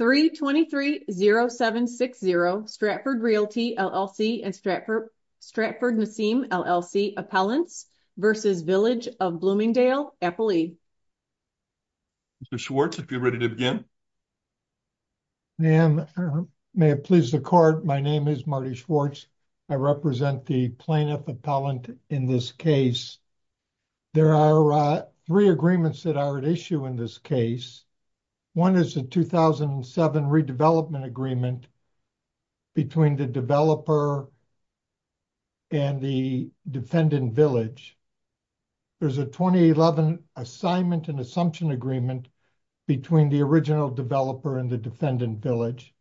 3230760 Stratford Realty, LLC and Stratford Stratford Nassim, LLC Appellants versus Village of Bloomingdale Appellee. Schwartz, if you're ready to begin. Ma'am, may it please the court. My name is Marty Schwartz. I represent the plaintiff appellant in this case. There are three agreements that are at issue in this case. One is a 2007 redevelopment agreement between the developer and the defendant village. There's a 2011 assignment and assumption agreement between the original developer and the defendant village.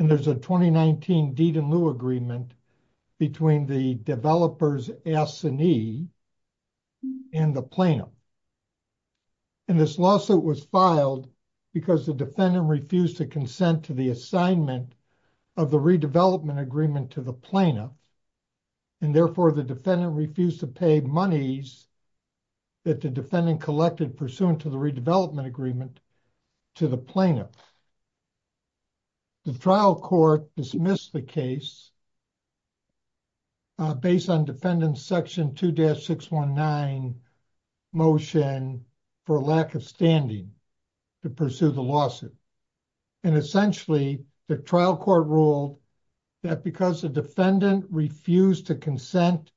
And there's a 2019 deed in lieu agreement between the developers S&E and the plaintiff. And this lawsuit was filed because the defendant refused to consent to the assignment of the redevelopment agreement to the plaintiff. And therefore, the defendant refused to pay monies that the defendant collected pursuant to the redevelopment agreement to the plaintiff. The trial court dismissed the case based on defendant section 2-619 motion for lack of standing to pursue the lawsuit. And essentially, the trial court ruled that because the defendant refused to consent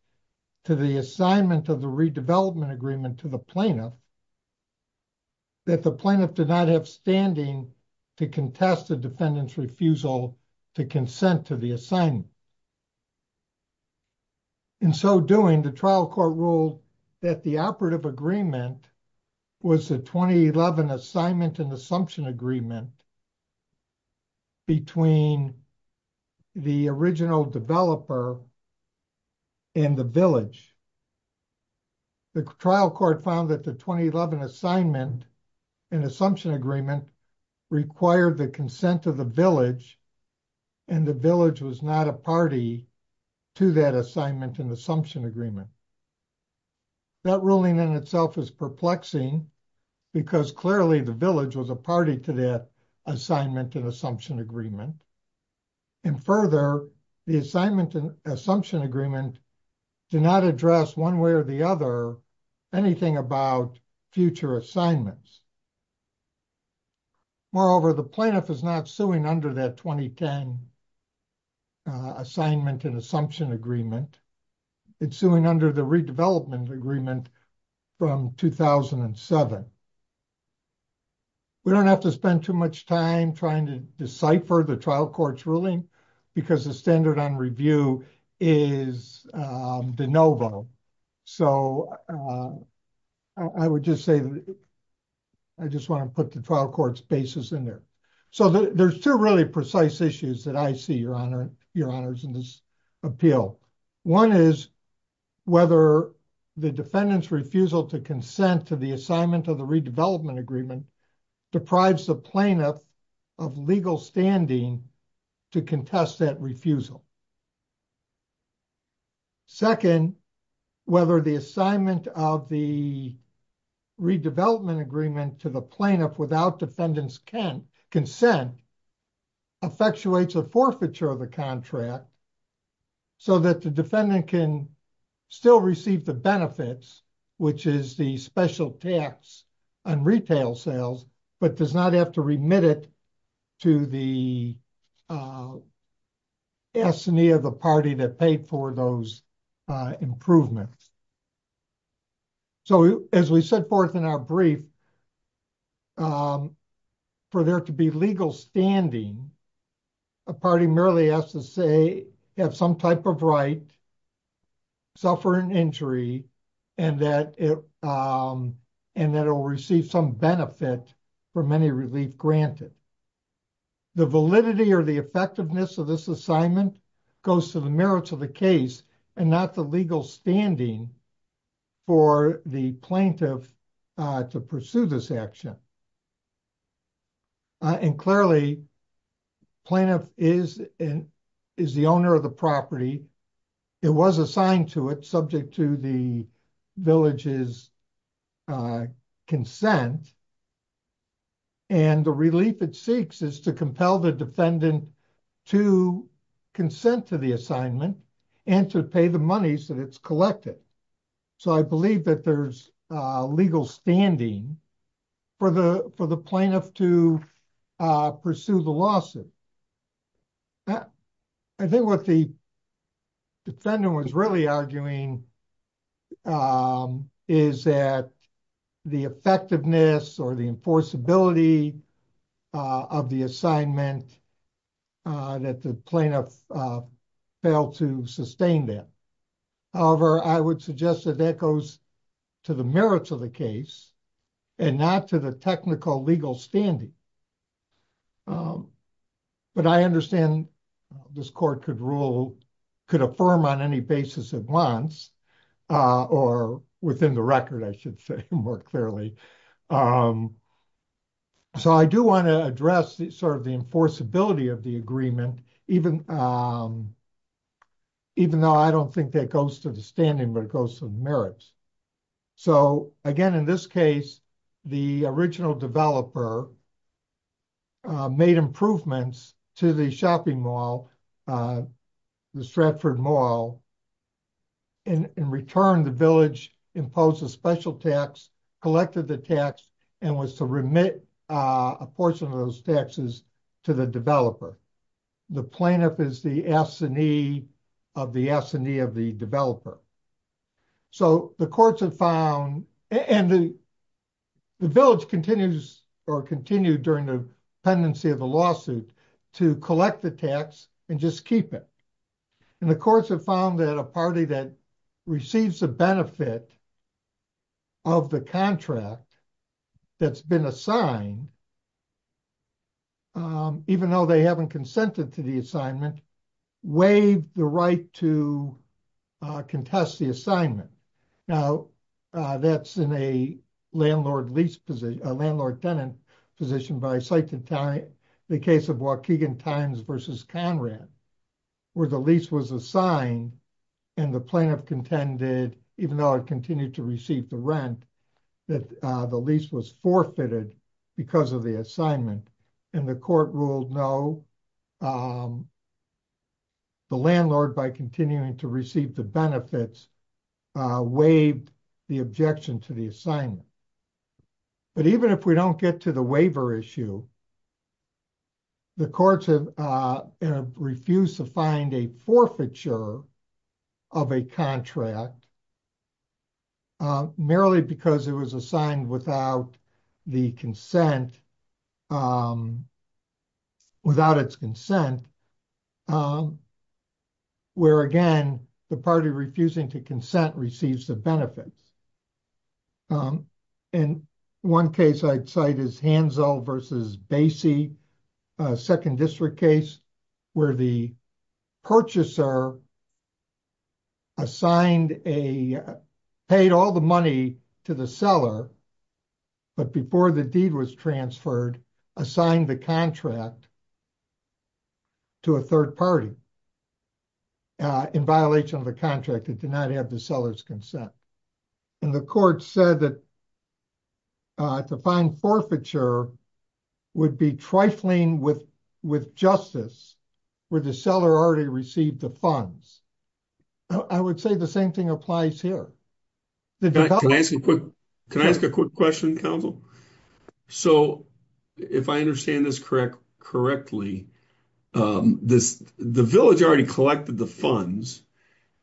to the assignment of the redevelopment agreement to the plaintiff, that the plaintiff did not have standing to contest the defendant's refusal to consent to the assignment. In so doing, the trial court ruled that the operative agreement was a 2011 assignment and assumption agreement between the original developer and the village. The trial court found that the 2011 assignment and assumption agreement required the consent of the village, and the village was not a party to that assignment and assumption agreement. That ruling in itself is perplexing because clearly the village was a party to that assignment and assumption agreement. And further, the assignment and assumption agreement did not address one way or the other anything about future assignments. Moreover, the plaintiff is not suing under that 2010 assignment and assumption agreement. It's suing under the redevelopment agreement from 2007. We don't have to spend too much time trying to decipher the trial court's ruling because the standard on review is de novo. So I would just say that I just want to put the trial court's basis in there. So there's two really precise issues that I see, Your Honor, in this appeal. One is whether the defendant's refusal to consent to the assignment of the redevelopment agreement deprives the plaintiff of legal standing to contest that refusal. Second, whether the assignment of the redevelopment agreement to the plaintiff without defendant's consent effectuates a forfeiture of the contract so that the defendant can still receive the benefits, which is the special tax on retail sales, but does not have to remit it to the assignee of the party that paid for those improvements. So as we set forth in our brief, for there to be legal standing, a party merely has to say they have some type of right, suffer an injury, and that it will receive some benefit for many relief granted. The validity or the effectiveness of this assignment goes to the merits of the case and not the legal standing for the plaintiff to pursue this action. And clearly, the plaintiff is the owner of the property. It was assigned to it subject to the village's consent, and the relief it seeks is to compel the defendant to consent to the assignment and to pay the money so that it's collected. So I believe that there's legal standing for the plaintiff to pursue the lawsuit. I think what the defendant was really arguing is that the effectiveness or the enforceability of the assignment that the plaintiff failed to sustain that. However, I would suggest that that goes to the merits of the case and not to the technical legal standing. But I understand this court could rule, could affirm on any basis it wants, or within the record, I should say more clearly. So I do want to address sort of the enforceability of the agreement, even though I don't think that goes to the standing, but it goes to the merits. So again, in this case, the original developer made improvements to the shopping mall, the Stratford Mall. In return, the village imposed a special tax, collected the tax, and was to remit a portion of those taxes to the developer. The plaintiff is the assignee of the assignee of the developer. So the courts have found, and the village continues or continued during the pendency of the lawsuit to collect the tax and just keep it. And the courts have found that a party that receives the benefit of the contract that's been assigned, even though they haven't consented to the assignment, waived the right to contest the assignment. Now, that's in a landlord lease position, a landlord-tenant position by the case of Waukegan Times versus Conrad, where the lease was assigned and the plaintiff contended, even though it continued to receive the rent, that the lease was forfeited because of the assignment. And the court ruled no. The landlord, by continuing to receive the benefits, waived the objection to the assignment. But even if we don't get to the waiver issue, the courts have refused to find a forfeiture of a contract merely because it was assigned without the consent, without its consent, where, again, the party refusing to consent receives the benefits. And one case I'd cite is Hansel versus Basie, a second district case, where the purchaser assigned a, paid all the money to the seller, but before the deed was transferred, assigned the contract to a third party in violation of the contract. It did not have the seller's consent. And the court said that to find forfeiture would be trifling with justice, where the seller already received the funds. I would say the same thing applies here. Can I ask a quick question, counsel? So, if I understand this correctly, the village already collected the funds,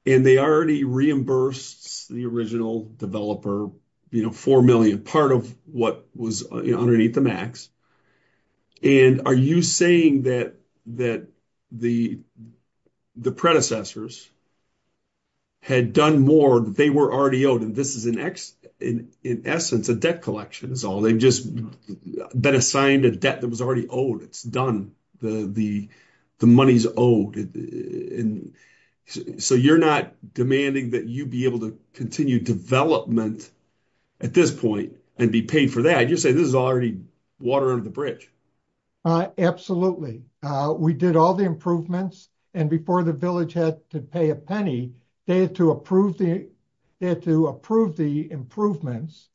and they already reimbursed the original developer, you know, 4 million, part of what was underneath the max. And are you saying that the predecessors had done more, that they were already owed? And this is, in essence, a debt collection is all. They've just been assigned a debt that was already owed. It's done. The money's owed. And so, you're not demanding that you be able to continue development at this point and be paid for that. You're saying this is already water under the bridge. Absolutely. We did all the improvements. And before the village had to pay a penny, they had to approve the improvements.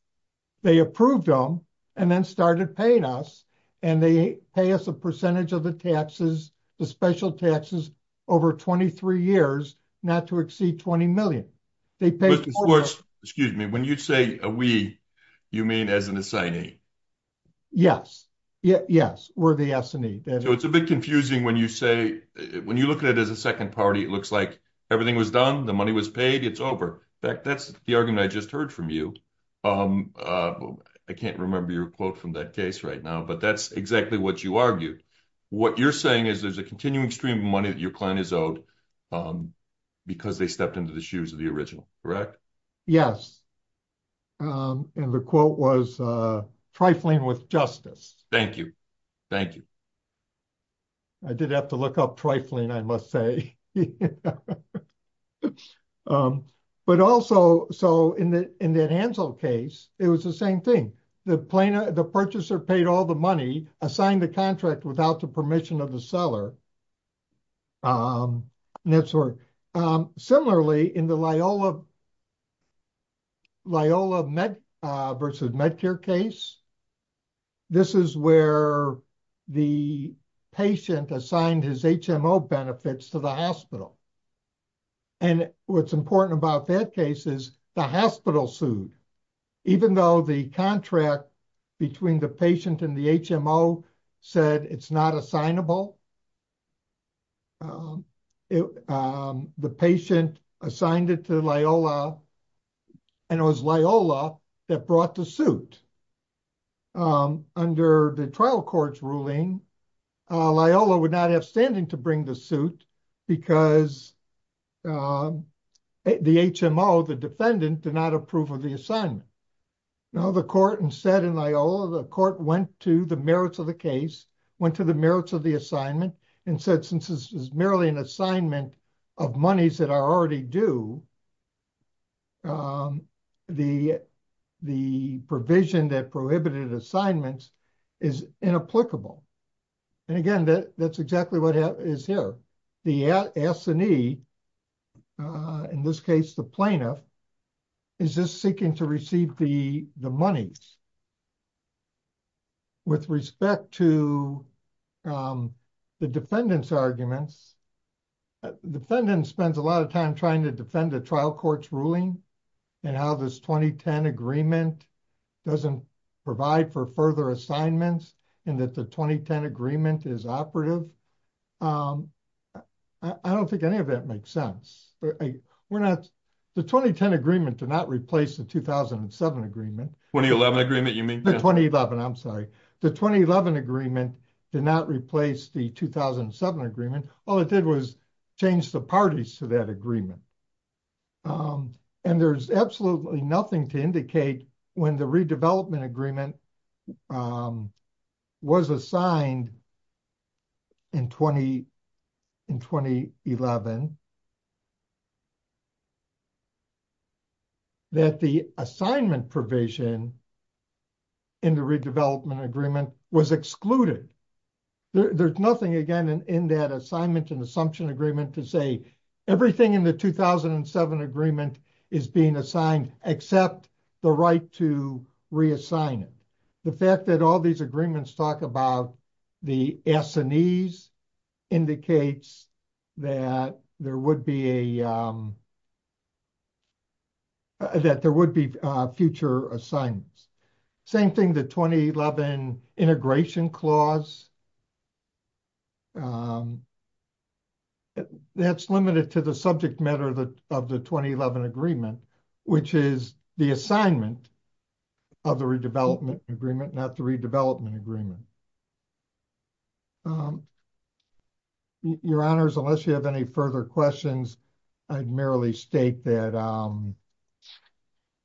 They approved them and then started paying us, and they pay us a percentage of the taxes, the special taxes, over 23 years, not to exceed 20 million. Excuse me, when you say we, you mean as an assignee? Yes, yes, we're the assignee. It's a bit confusing when you say, when you look at it as a second party, it looks like everything was done. The money was paid. It's over. In fact, that's the argument I just heard from you. I can't remember your quote from that case right now, but that's exactly what you argued. What you're saying is there's a continuing stream of money that your client is owed because they stepped into the shoes of the original, correct? Yes, and the quote was trifling with justice. Thank you, thank you. I did have to look up trifling, I must say. But also, so in that Ansel case, it was the same thing. The purchaser paid all the money, assigned the contract without the permission of the seller. Similarly, in the Loyola versus Medcare case, this is where the patient assigned his HMO benefits to the hospital. And what's important about that case is the hospital sued. Even though the contract between the patient and the HMO said it's not assignable, the patient assigned it to Loyola, and it was Loyola that brought the suit. Under the trial court's ruling, Loyola would not have standing to bring the suit because the HMO, the defendant, did not approve of the assignment. Now, the court instead in Loyola, the court went to the merits of the case, went to the merits of the assignment, and said, since this is merely an assignment of monies that are already due, the provision that prohibited assignments is inapplicable. And again, that's exactly what is here. The S&E, in this case, the plaintiff, is just seeking to receive the monies. With respect to the defendant's arguments, the defendant spends a lot of time trying to defend the trial court's ruling and how this 2010 agreement doesn't provide for further assignments and that the 2010 agreement is operative. I don't think any of that makes sense. The 2010 agreement did not replace the 2007 agreement. The 2011 agreement, you mean? The 2011, I'm sorry. The 2011 agreement did not replace the 2007 agreement. All it did was change the parties to that agreement. And there's absolutely nothing to indicate when the redevelopment agreement was assigned in 2011 that the assignment provision in the redevelopment agreement was excluded. There's nothing, again, in that assignment and assumption agreement to say everything in the 2007 agreement is being assigned except the right to reassign it. The fact that all these agreements talk about the S&Es indicates that there would be future assignments. Same thing, the 2011 integration clause, that's limited to the subject matter of the 2011 agreement, which is the assignment of the redevelopment agreement, not the redevelopment agreement. Your Honors, unless you have any further questions, I'd merely state that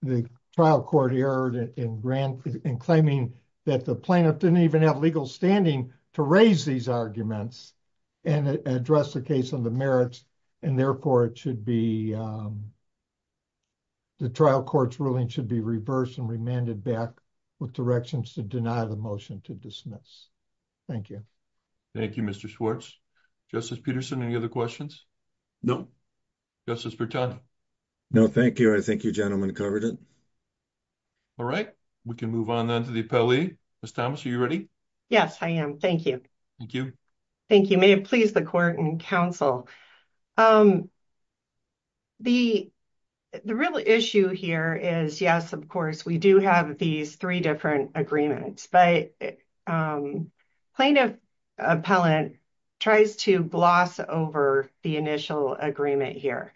the trial court erred in claiming that the plaintiff didn't even have legal standing to raise these arguments and address the case on the merits, and therefore it should be, the trial court's ruling should be reversed and remanded back with directions to deny the motion to dismiss. Thank you. Thank you, Mr. Schwartz. Justice Peterson, any other questions? No? Justice Bertano? No, thank you. I think your gentleman covered it. All right. We can move on then to the appellee. Ms. Thomas, are you ready? Yes, I am. Thank you. Thank you. Thank you. May it please the court and counsel, the real issue here is, yes, of course, we do have these three different agreements, but plaintiff appellant tries to gloss over the initial agreement here.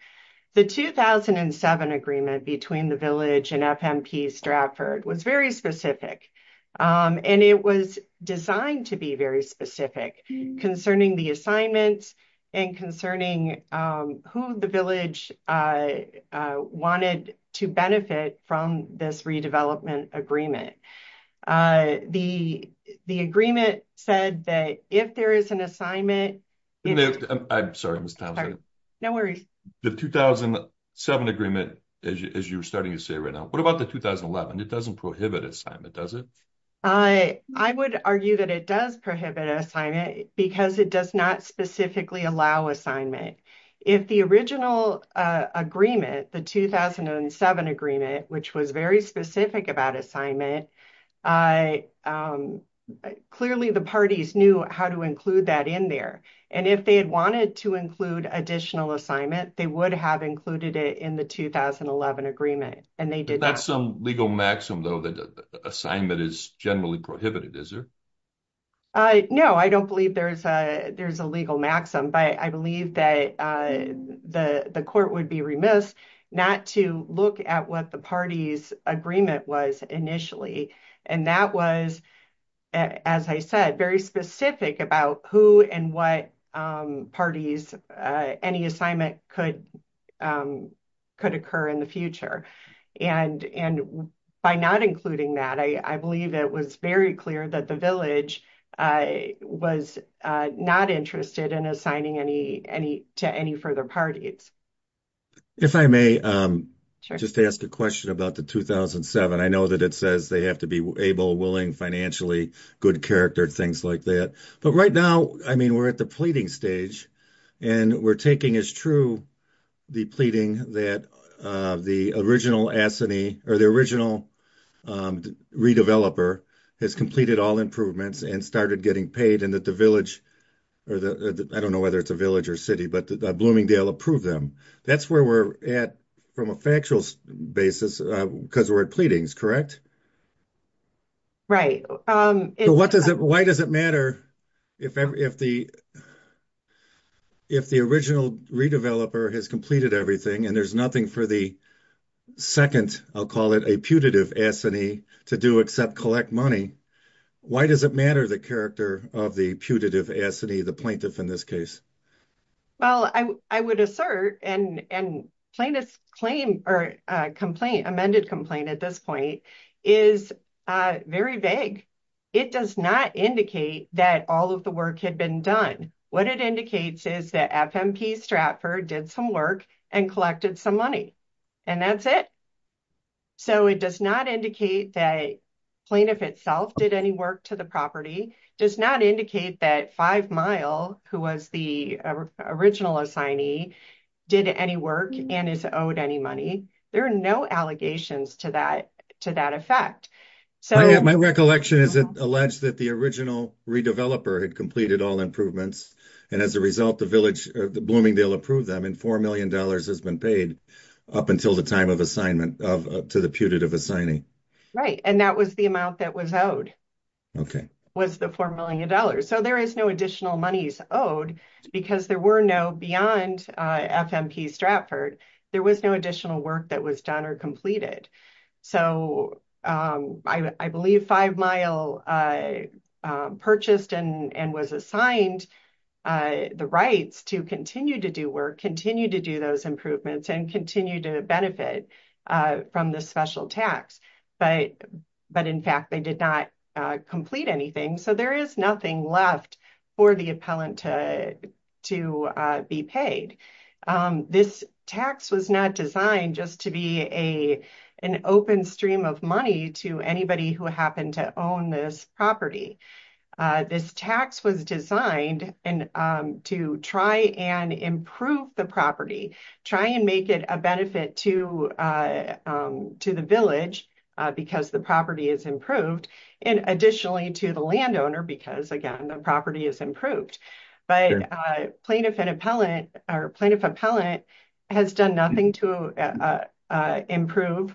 The 2007 agreement between the village and FMP Stratford was very specific, and it was designed to be very specific concerning the assignments and concerning who the village wanted to benefit from this redevelopment agreement. The agreement said that if there is an assignment... I'm sorry, Ms. Thompson. No worries. The 2007 agreement, as you're starting to say right now, what about the 2011? It doesn't prohibit assignment, does it? I would argue that it does prohibit assignment because it does not specifically allow assignment. If the original agreement, the 2007 agreement, which was very specific about assignment, clearly the parties knew how to include that in there, and if they had wanted to include additional assignment, they would have included it in the 2011 agreement, and they did not. Legal maxim, though, that assignment is generally prohibited, is there? No, I don't believe there's a legal maxim, but I believe that the court would be remiss not to look at what the party's agreement was initially, and that was, as I said, very specific about who and what parties any assignment could occur in the future, and by not including that, I believe it was very clear that the village was not interested in assigning to any further parties. If I may just ask a question about the 2007. I know that it says they have to be able, willing, financially, good character, things like that, but right now, I mean, we're at the pleading stage, and we're taking as true the pleading that the original redeveloper has completed all improvements and started getting paid, and that the village, I don't know whether it's a village or city, but Bloomingdale approved them. That's where we're at from a factual basis because we're at pleadings, correct? Right. Why does it matter if the original redeveloper has completed everything, and there's nothing for the second, I'll call it, a putative assignee to do except collect money? Why does it matter the character of the putative assignee, the plaintiff in this case? Well, I would assert, and plaintiff's claim or complaint, amended complaint at this point, is very vague. It does not indicate that all of the work had been done. What it indicates is that FMP Stratford did some work and collected some money, and that's it. So it does not indicate that plaintiff itself did any work to the property, does not indicate that Five Mile, who was the original assignee, did any work and is owed any money. There are no allegations to that effect. My recollection is it alleged that the original redeveloper had completed all improvements, and as a result, Bloomingdale approved them, and $4 million has been paid up until the time of assignment to the putative assignee. Right, and that was the amount that was owed, was the $4 million. So there is no additional monies owed because there were no, beyond FMP Stratford, there was no additional work that was done or completed. So I believe Five Mile purchased and was assigned the rights to continue to do work, continue to do those improvements, and continue to benefit from the special tax, but in fact, they did not complete anything. So there is nothing left for the appellant to be paid. This tax was not designed just to be an open stream of money to anybody who happened to own this property. This tax was designed to try and improve the property, try and make it a benefit to the village because the property is improved, and additionally to the landowner because, again, the property is improved. But plaintiff and appellant, or plaintiff-appellant has done nothing to improve,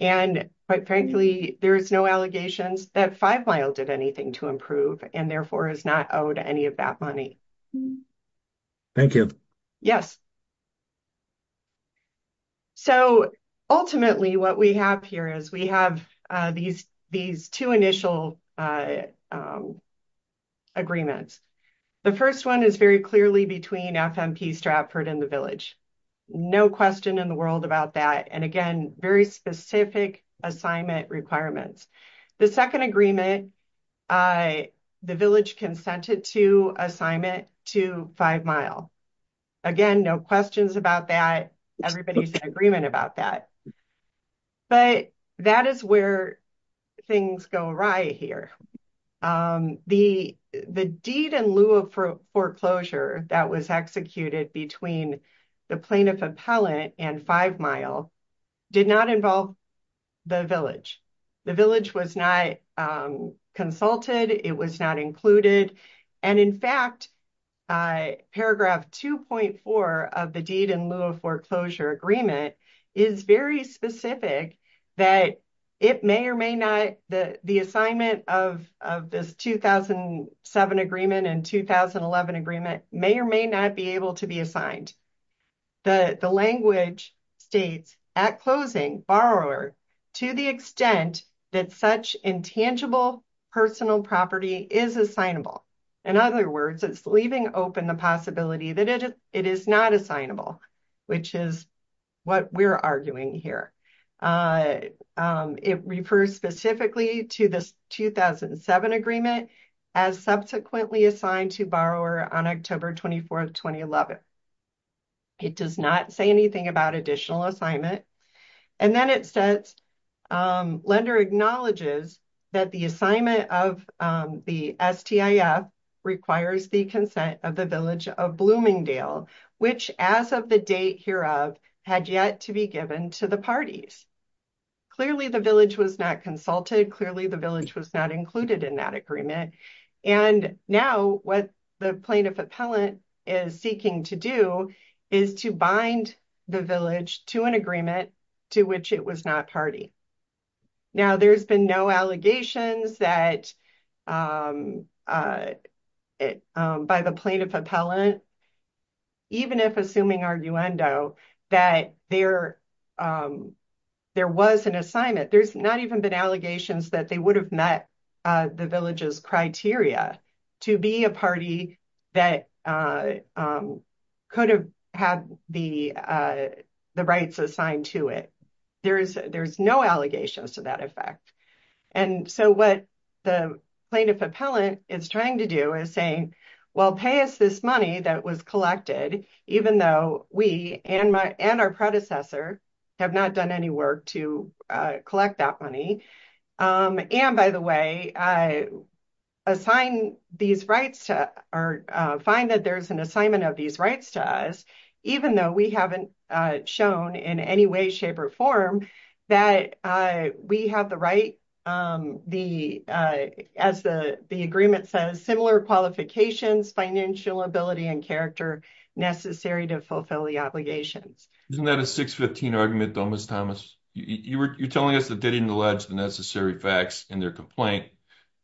and quite frankly, there is no allegations that Five Mile did anything to improve, and therefore is not owed any of that money. Thank you. Yes. So, ultimately, what we have here is we have these two initial agreements. The first one is very clearly between FMP Stratford and the village. No question in the world about that, and again, very specific assignment requirements. The second agreement, the village consented to assignment to Five Mile. Again, no questions about that. Everybody's in agreement about that. But that is where things go awry here. The deed in lieu of foreclosure that was executed between the plaintiff-appellant and Five Mile did not involve the village. The village was not consulted. It was not included. And in fact, paragraph 2.4 of the deed in lieu of foreclosure agreement is very specific that it may or may not, the assignment of this 2007 agreement and 2011 agreement may or may not be able to be assigned. The language states, at closing, borrower, to the extent that such intangible personal property is assignable. In other words, it's leaving open the possibility that it is not assignable, which is what we're arguing here. It refers specifically to this 2007 agreement as subsequently assigned to borrower on October 24th, 2011. It does not say anything about additional assignment. And then it says, lender acknowledges that the assignment of the STIF requires the consent of the village of Bloomingdale, which as of the date hereof, had yet to be given to the parties. Clearly, the village was not consulted. Clearly, the village was not included in that agreement. And now what the plaintiff appellant is seeking to do is to bind the village to an agreement to which it was not party. Now, there's been no allegations that by the plaintiff appellant, even if assuming arguendo that there was an assignment, there's not even been allegations that they would have met the village's criteria to be a party that could have had the rights assigned to it. There's no allegations to that effect. And so what the plaintiff appellant is trying to do is saying, well, pay us this money that was collected, even though we and our predecessor have not done any work to collect that money. And by the way, find that there's an assignment of these rights to us, even though we haven't shown in any way, shape, or form that we have the right, as the agreement says, similar qualifications, financial ability, and character necessary to fulfill the obligations. Isn't that a 6-15 argument, though, Ms. Thomas? You're telling us that they didn't allege the necessary facts in their complaint,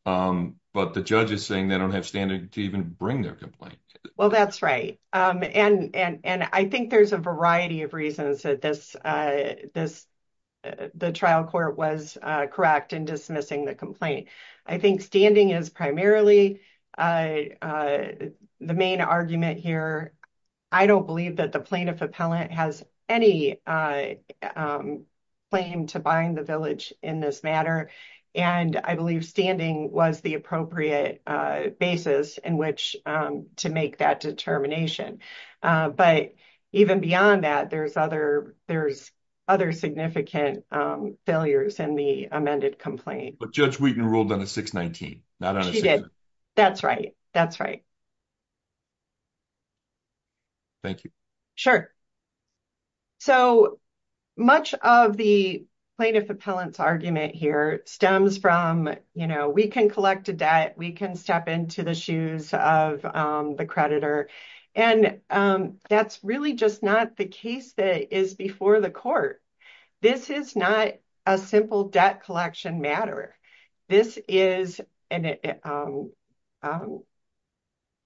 but the judge is saying they don't have standing to even bring their complaint. Well, that's right. And I think there's a variety of reasons that the trial court was correct in dismissing the complaint. I think standing is primarily the main argument here. I don't believe that the plaintiff appellant has any claim to bind the village in this matter. And I believe standing was the appropriate basis in which to make that determination. But even beyond that, there's other significant failures in the amended complaint. But Judge Wheaton ruled on a 6-19, not on a 6-15. That's right. That's right. Thank you. So, much of the plaintiff appellant's argument here stems from, you know, we can collect a debt, we can step into the shoes of the creditor, and that's really just not the case that is before the court. This is not a simple debt collection matter. This is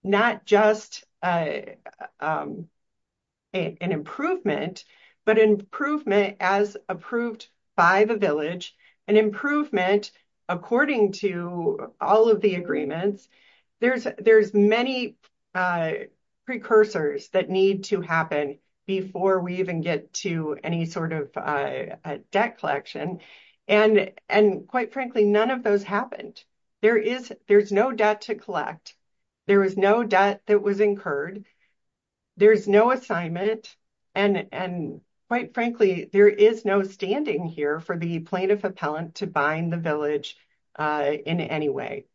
not just an improvement, but an improvement as approved by the village, an improvement according to all of the agreements. There's many precursors that need to happen before we even get to any sort of debt collection. And quite frankly, none of those happened. There is, there's no debt to collect. There is no debt that was incurred. There's no assignment. And quite frankly, there is no standing here for the plaintiff appellant to bind the village in any way.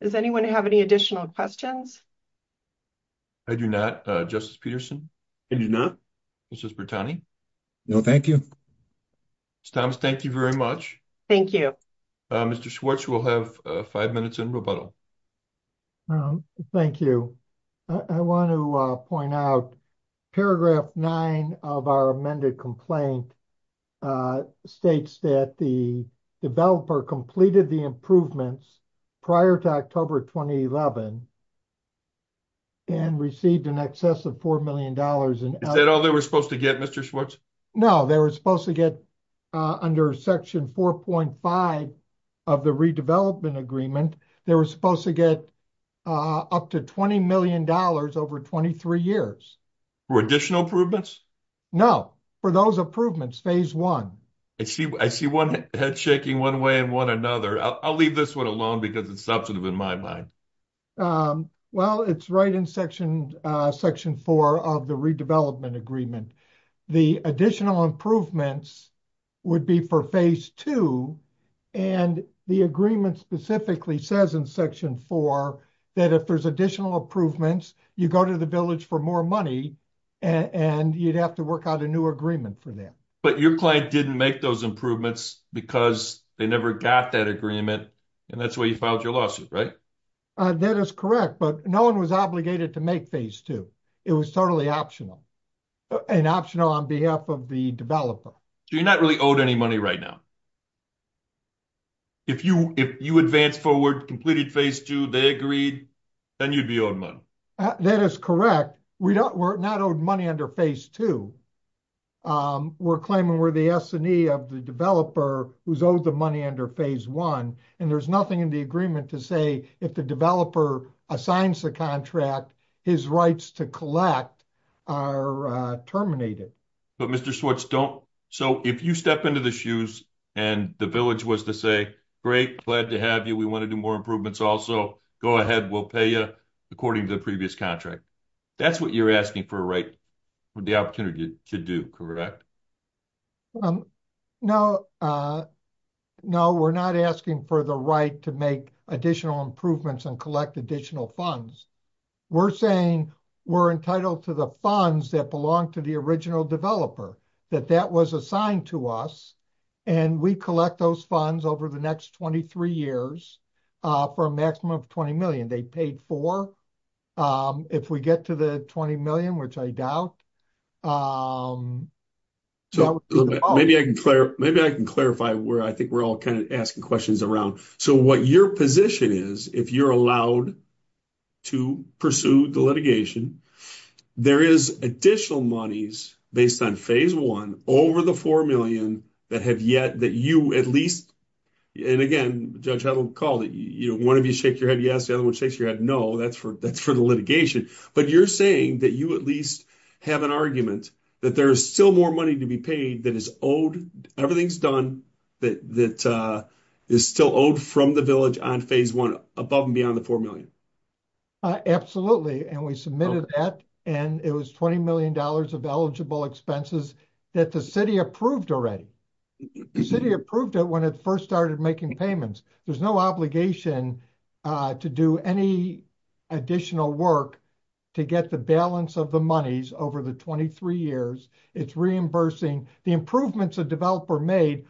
Does anyone have any additional questions? I do not. Justice Peterson? I do not. Justice Bertani? No, thank you. Justice Thomas, thank you very much. Thank you. Mr. Schwartz, we'll have five minutes in rebuttal. Thank you. I want to point out paragraph nine of our amended complaint states that the developer completed the improvements prior to October 2011 and received in excess of $4 million. Is that all they were supposed to get, Mr. Schwartz? No, they were supposed to get under section 4.5 of the redevelopment agreement, they were supposed to get up to $20 million over 23 years. For additional improvements? No, for those improvements, phase one. I see one head shaking one way and one another. I'll leave this one alone because it's substantive in my mind. Well, it's right in section 4 of the redevelopment agreement. The additional improvements would be for phase two and the agreement specifically says in section 4 that if there's additional improvements, you go to the village for more money and you'd have to work out a new agreement for them. But your client didn't make those improvements because they never got that agreement and that's why you filed your lawsuit, right? That is correct, but no one was obligated to make phase two. It was totally optional and optional on behalf of the developer. So you're not really owed any money right now? If you advanced forward, completed phase two, they agreed, then you'd be owed money. That is correct. We're not owed money under phase two. We're claiming we're the S&E of the developer who's owed the money under phase one and there's nothing in the agreement to say if the developer assigns the contract, his rights to collect are terminated. But Mr. Swartz, so if you step into the shoes and the village was to say, great, glad to have you, we want to do more improvements also, go ahead, we'll pay you according to the previous contract. That's what you're asking for the opportunity to do, correct? No, we're not asking for the right to make additional improvements and collect additional funds. We're saying we're entitled to the funds that belong to the original developer, that that was assigned to us and we collect those funds over the next 23 years for a maximum of $20 They paid for, if we get to the $20 million, which I doubt, So maybe I can clarify where I think we're all kind of asking questions around. So what your position is, if you're allowed to pursue the litigation, there is additional monies based on phase one over the $4 million that have yet, that you at least, and again, Judge, I don't recall that one of you shake your head yes, the other one shakes your head no, that's for the litigation. But you're saying that you at least have an argument that there's still more money to be paid that is owed, everything's done, that is still owed from the village on phase one above and beyond the $4 million. Absolutely, and we submitted that and it was $20 million of eligible expenses that the city approved already. The city approved it when it first started making payments, there's no obligation to any additional work to get the balance of the monies over the 23 years. It's reimbursing the improvements a developer made,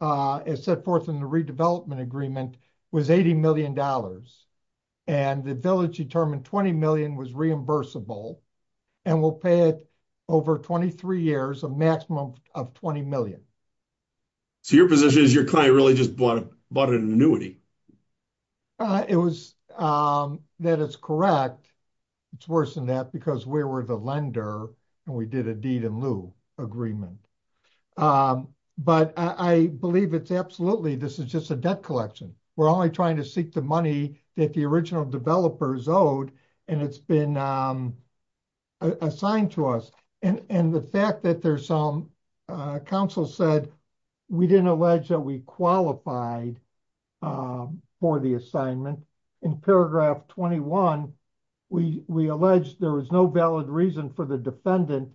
as set forth in the redevelopment agreement, was $80 million. And the village determined $20 million was reimbursable and will pay it over 23 years a maximum of $20 million. So your position is your client really just bought an annuity? It was that it's correct, it's worse than that because we were the lender, and we did a deed in lieu agreement. But I believe it's absolutely this is just a debt collection, we're only trying to seek the money that the original developers owed, and it's been assigned to us, and the fact that there's some council said we didn't allege that we qualified for the assignment in paragraph 21, we allege there was no valid reason for the defendant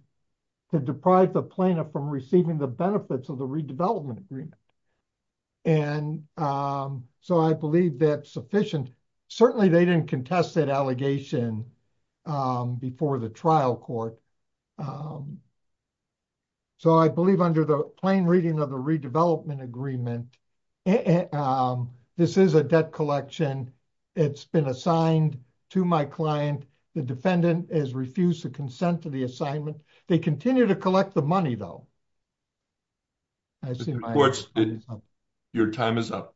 to deprive the plaintiff from receiving the benefits of the redevelopment agreement. And so I believe that's sufficient, certainly they didn't contest that allegation before the trial court. So I believe under the plain reading of the redevelopment agreement, this is a debt collection, it's been assigned to my client, the defendant has refused to consent to the assignment. They continue to collect the money, though. I see your time is up.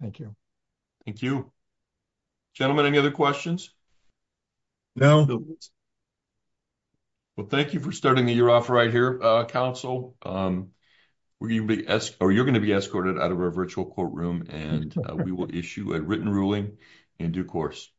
Thank you. Thank you. Gentlemen, any other questions? No. Well, thank you for starting the year off right here, Council. You're going to be escorted out of our virtual courtroom, and we will issue a written ruling in due course.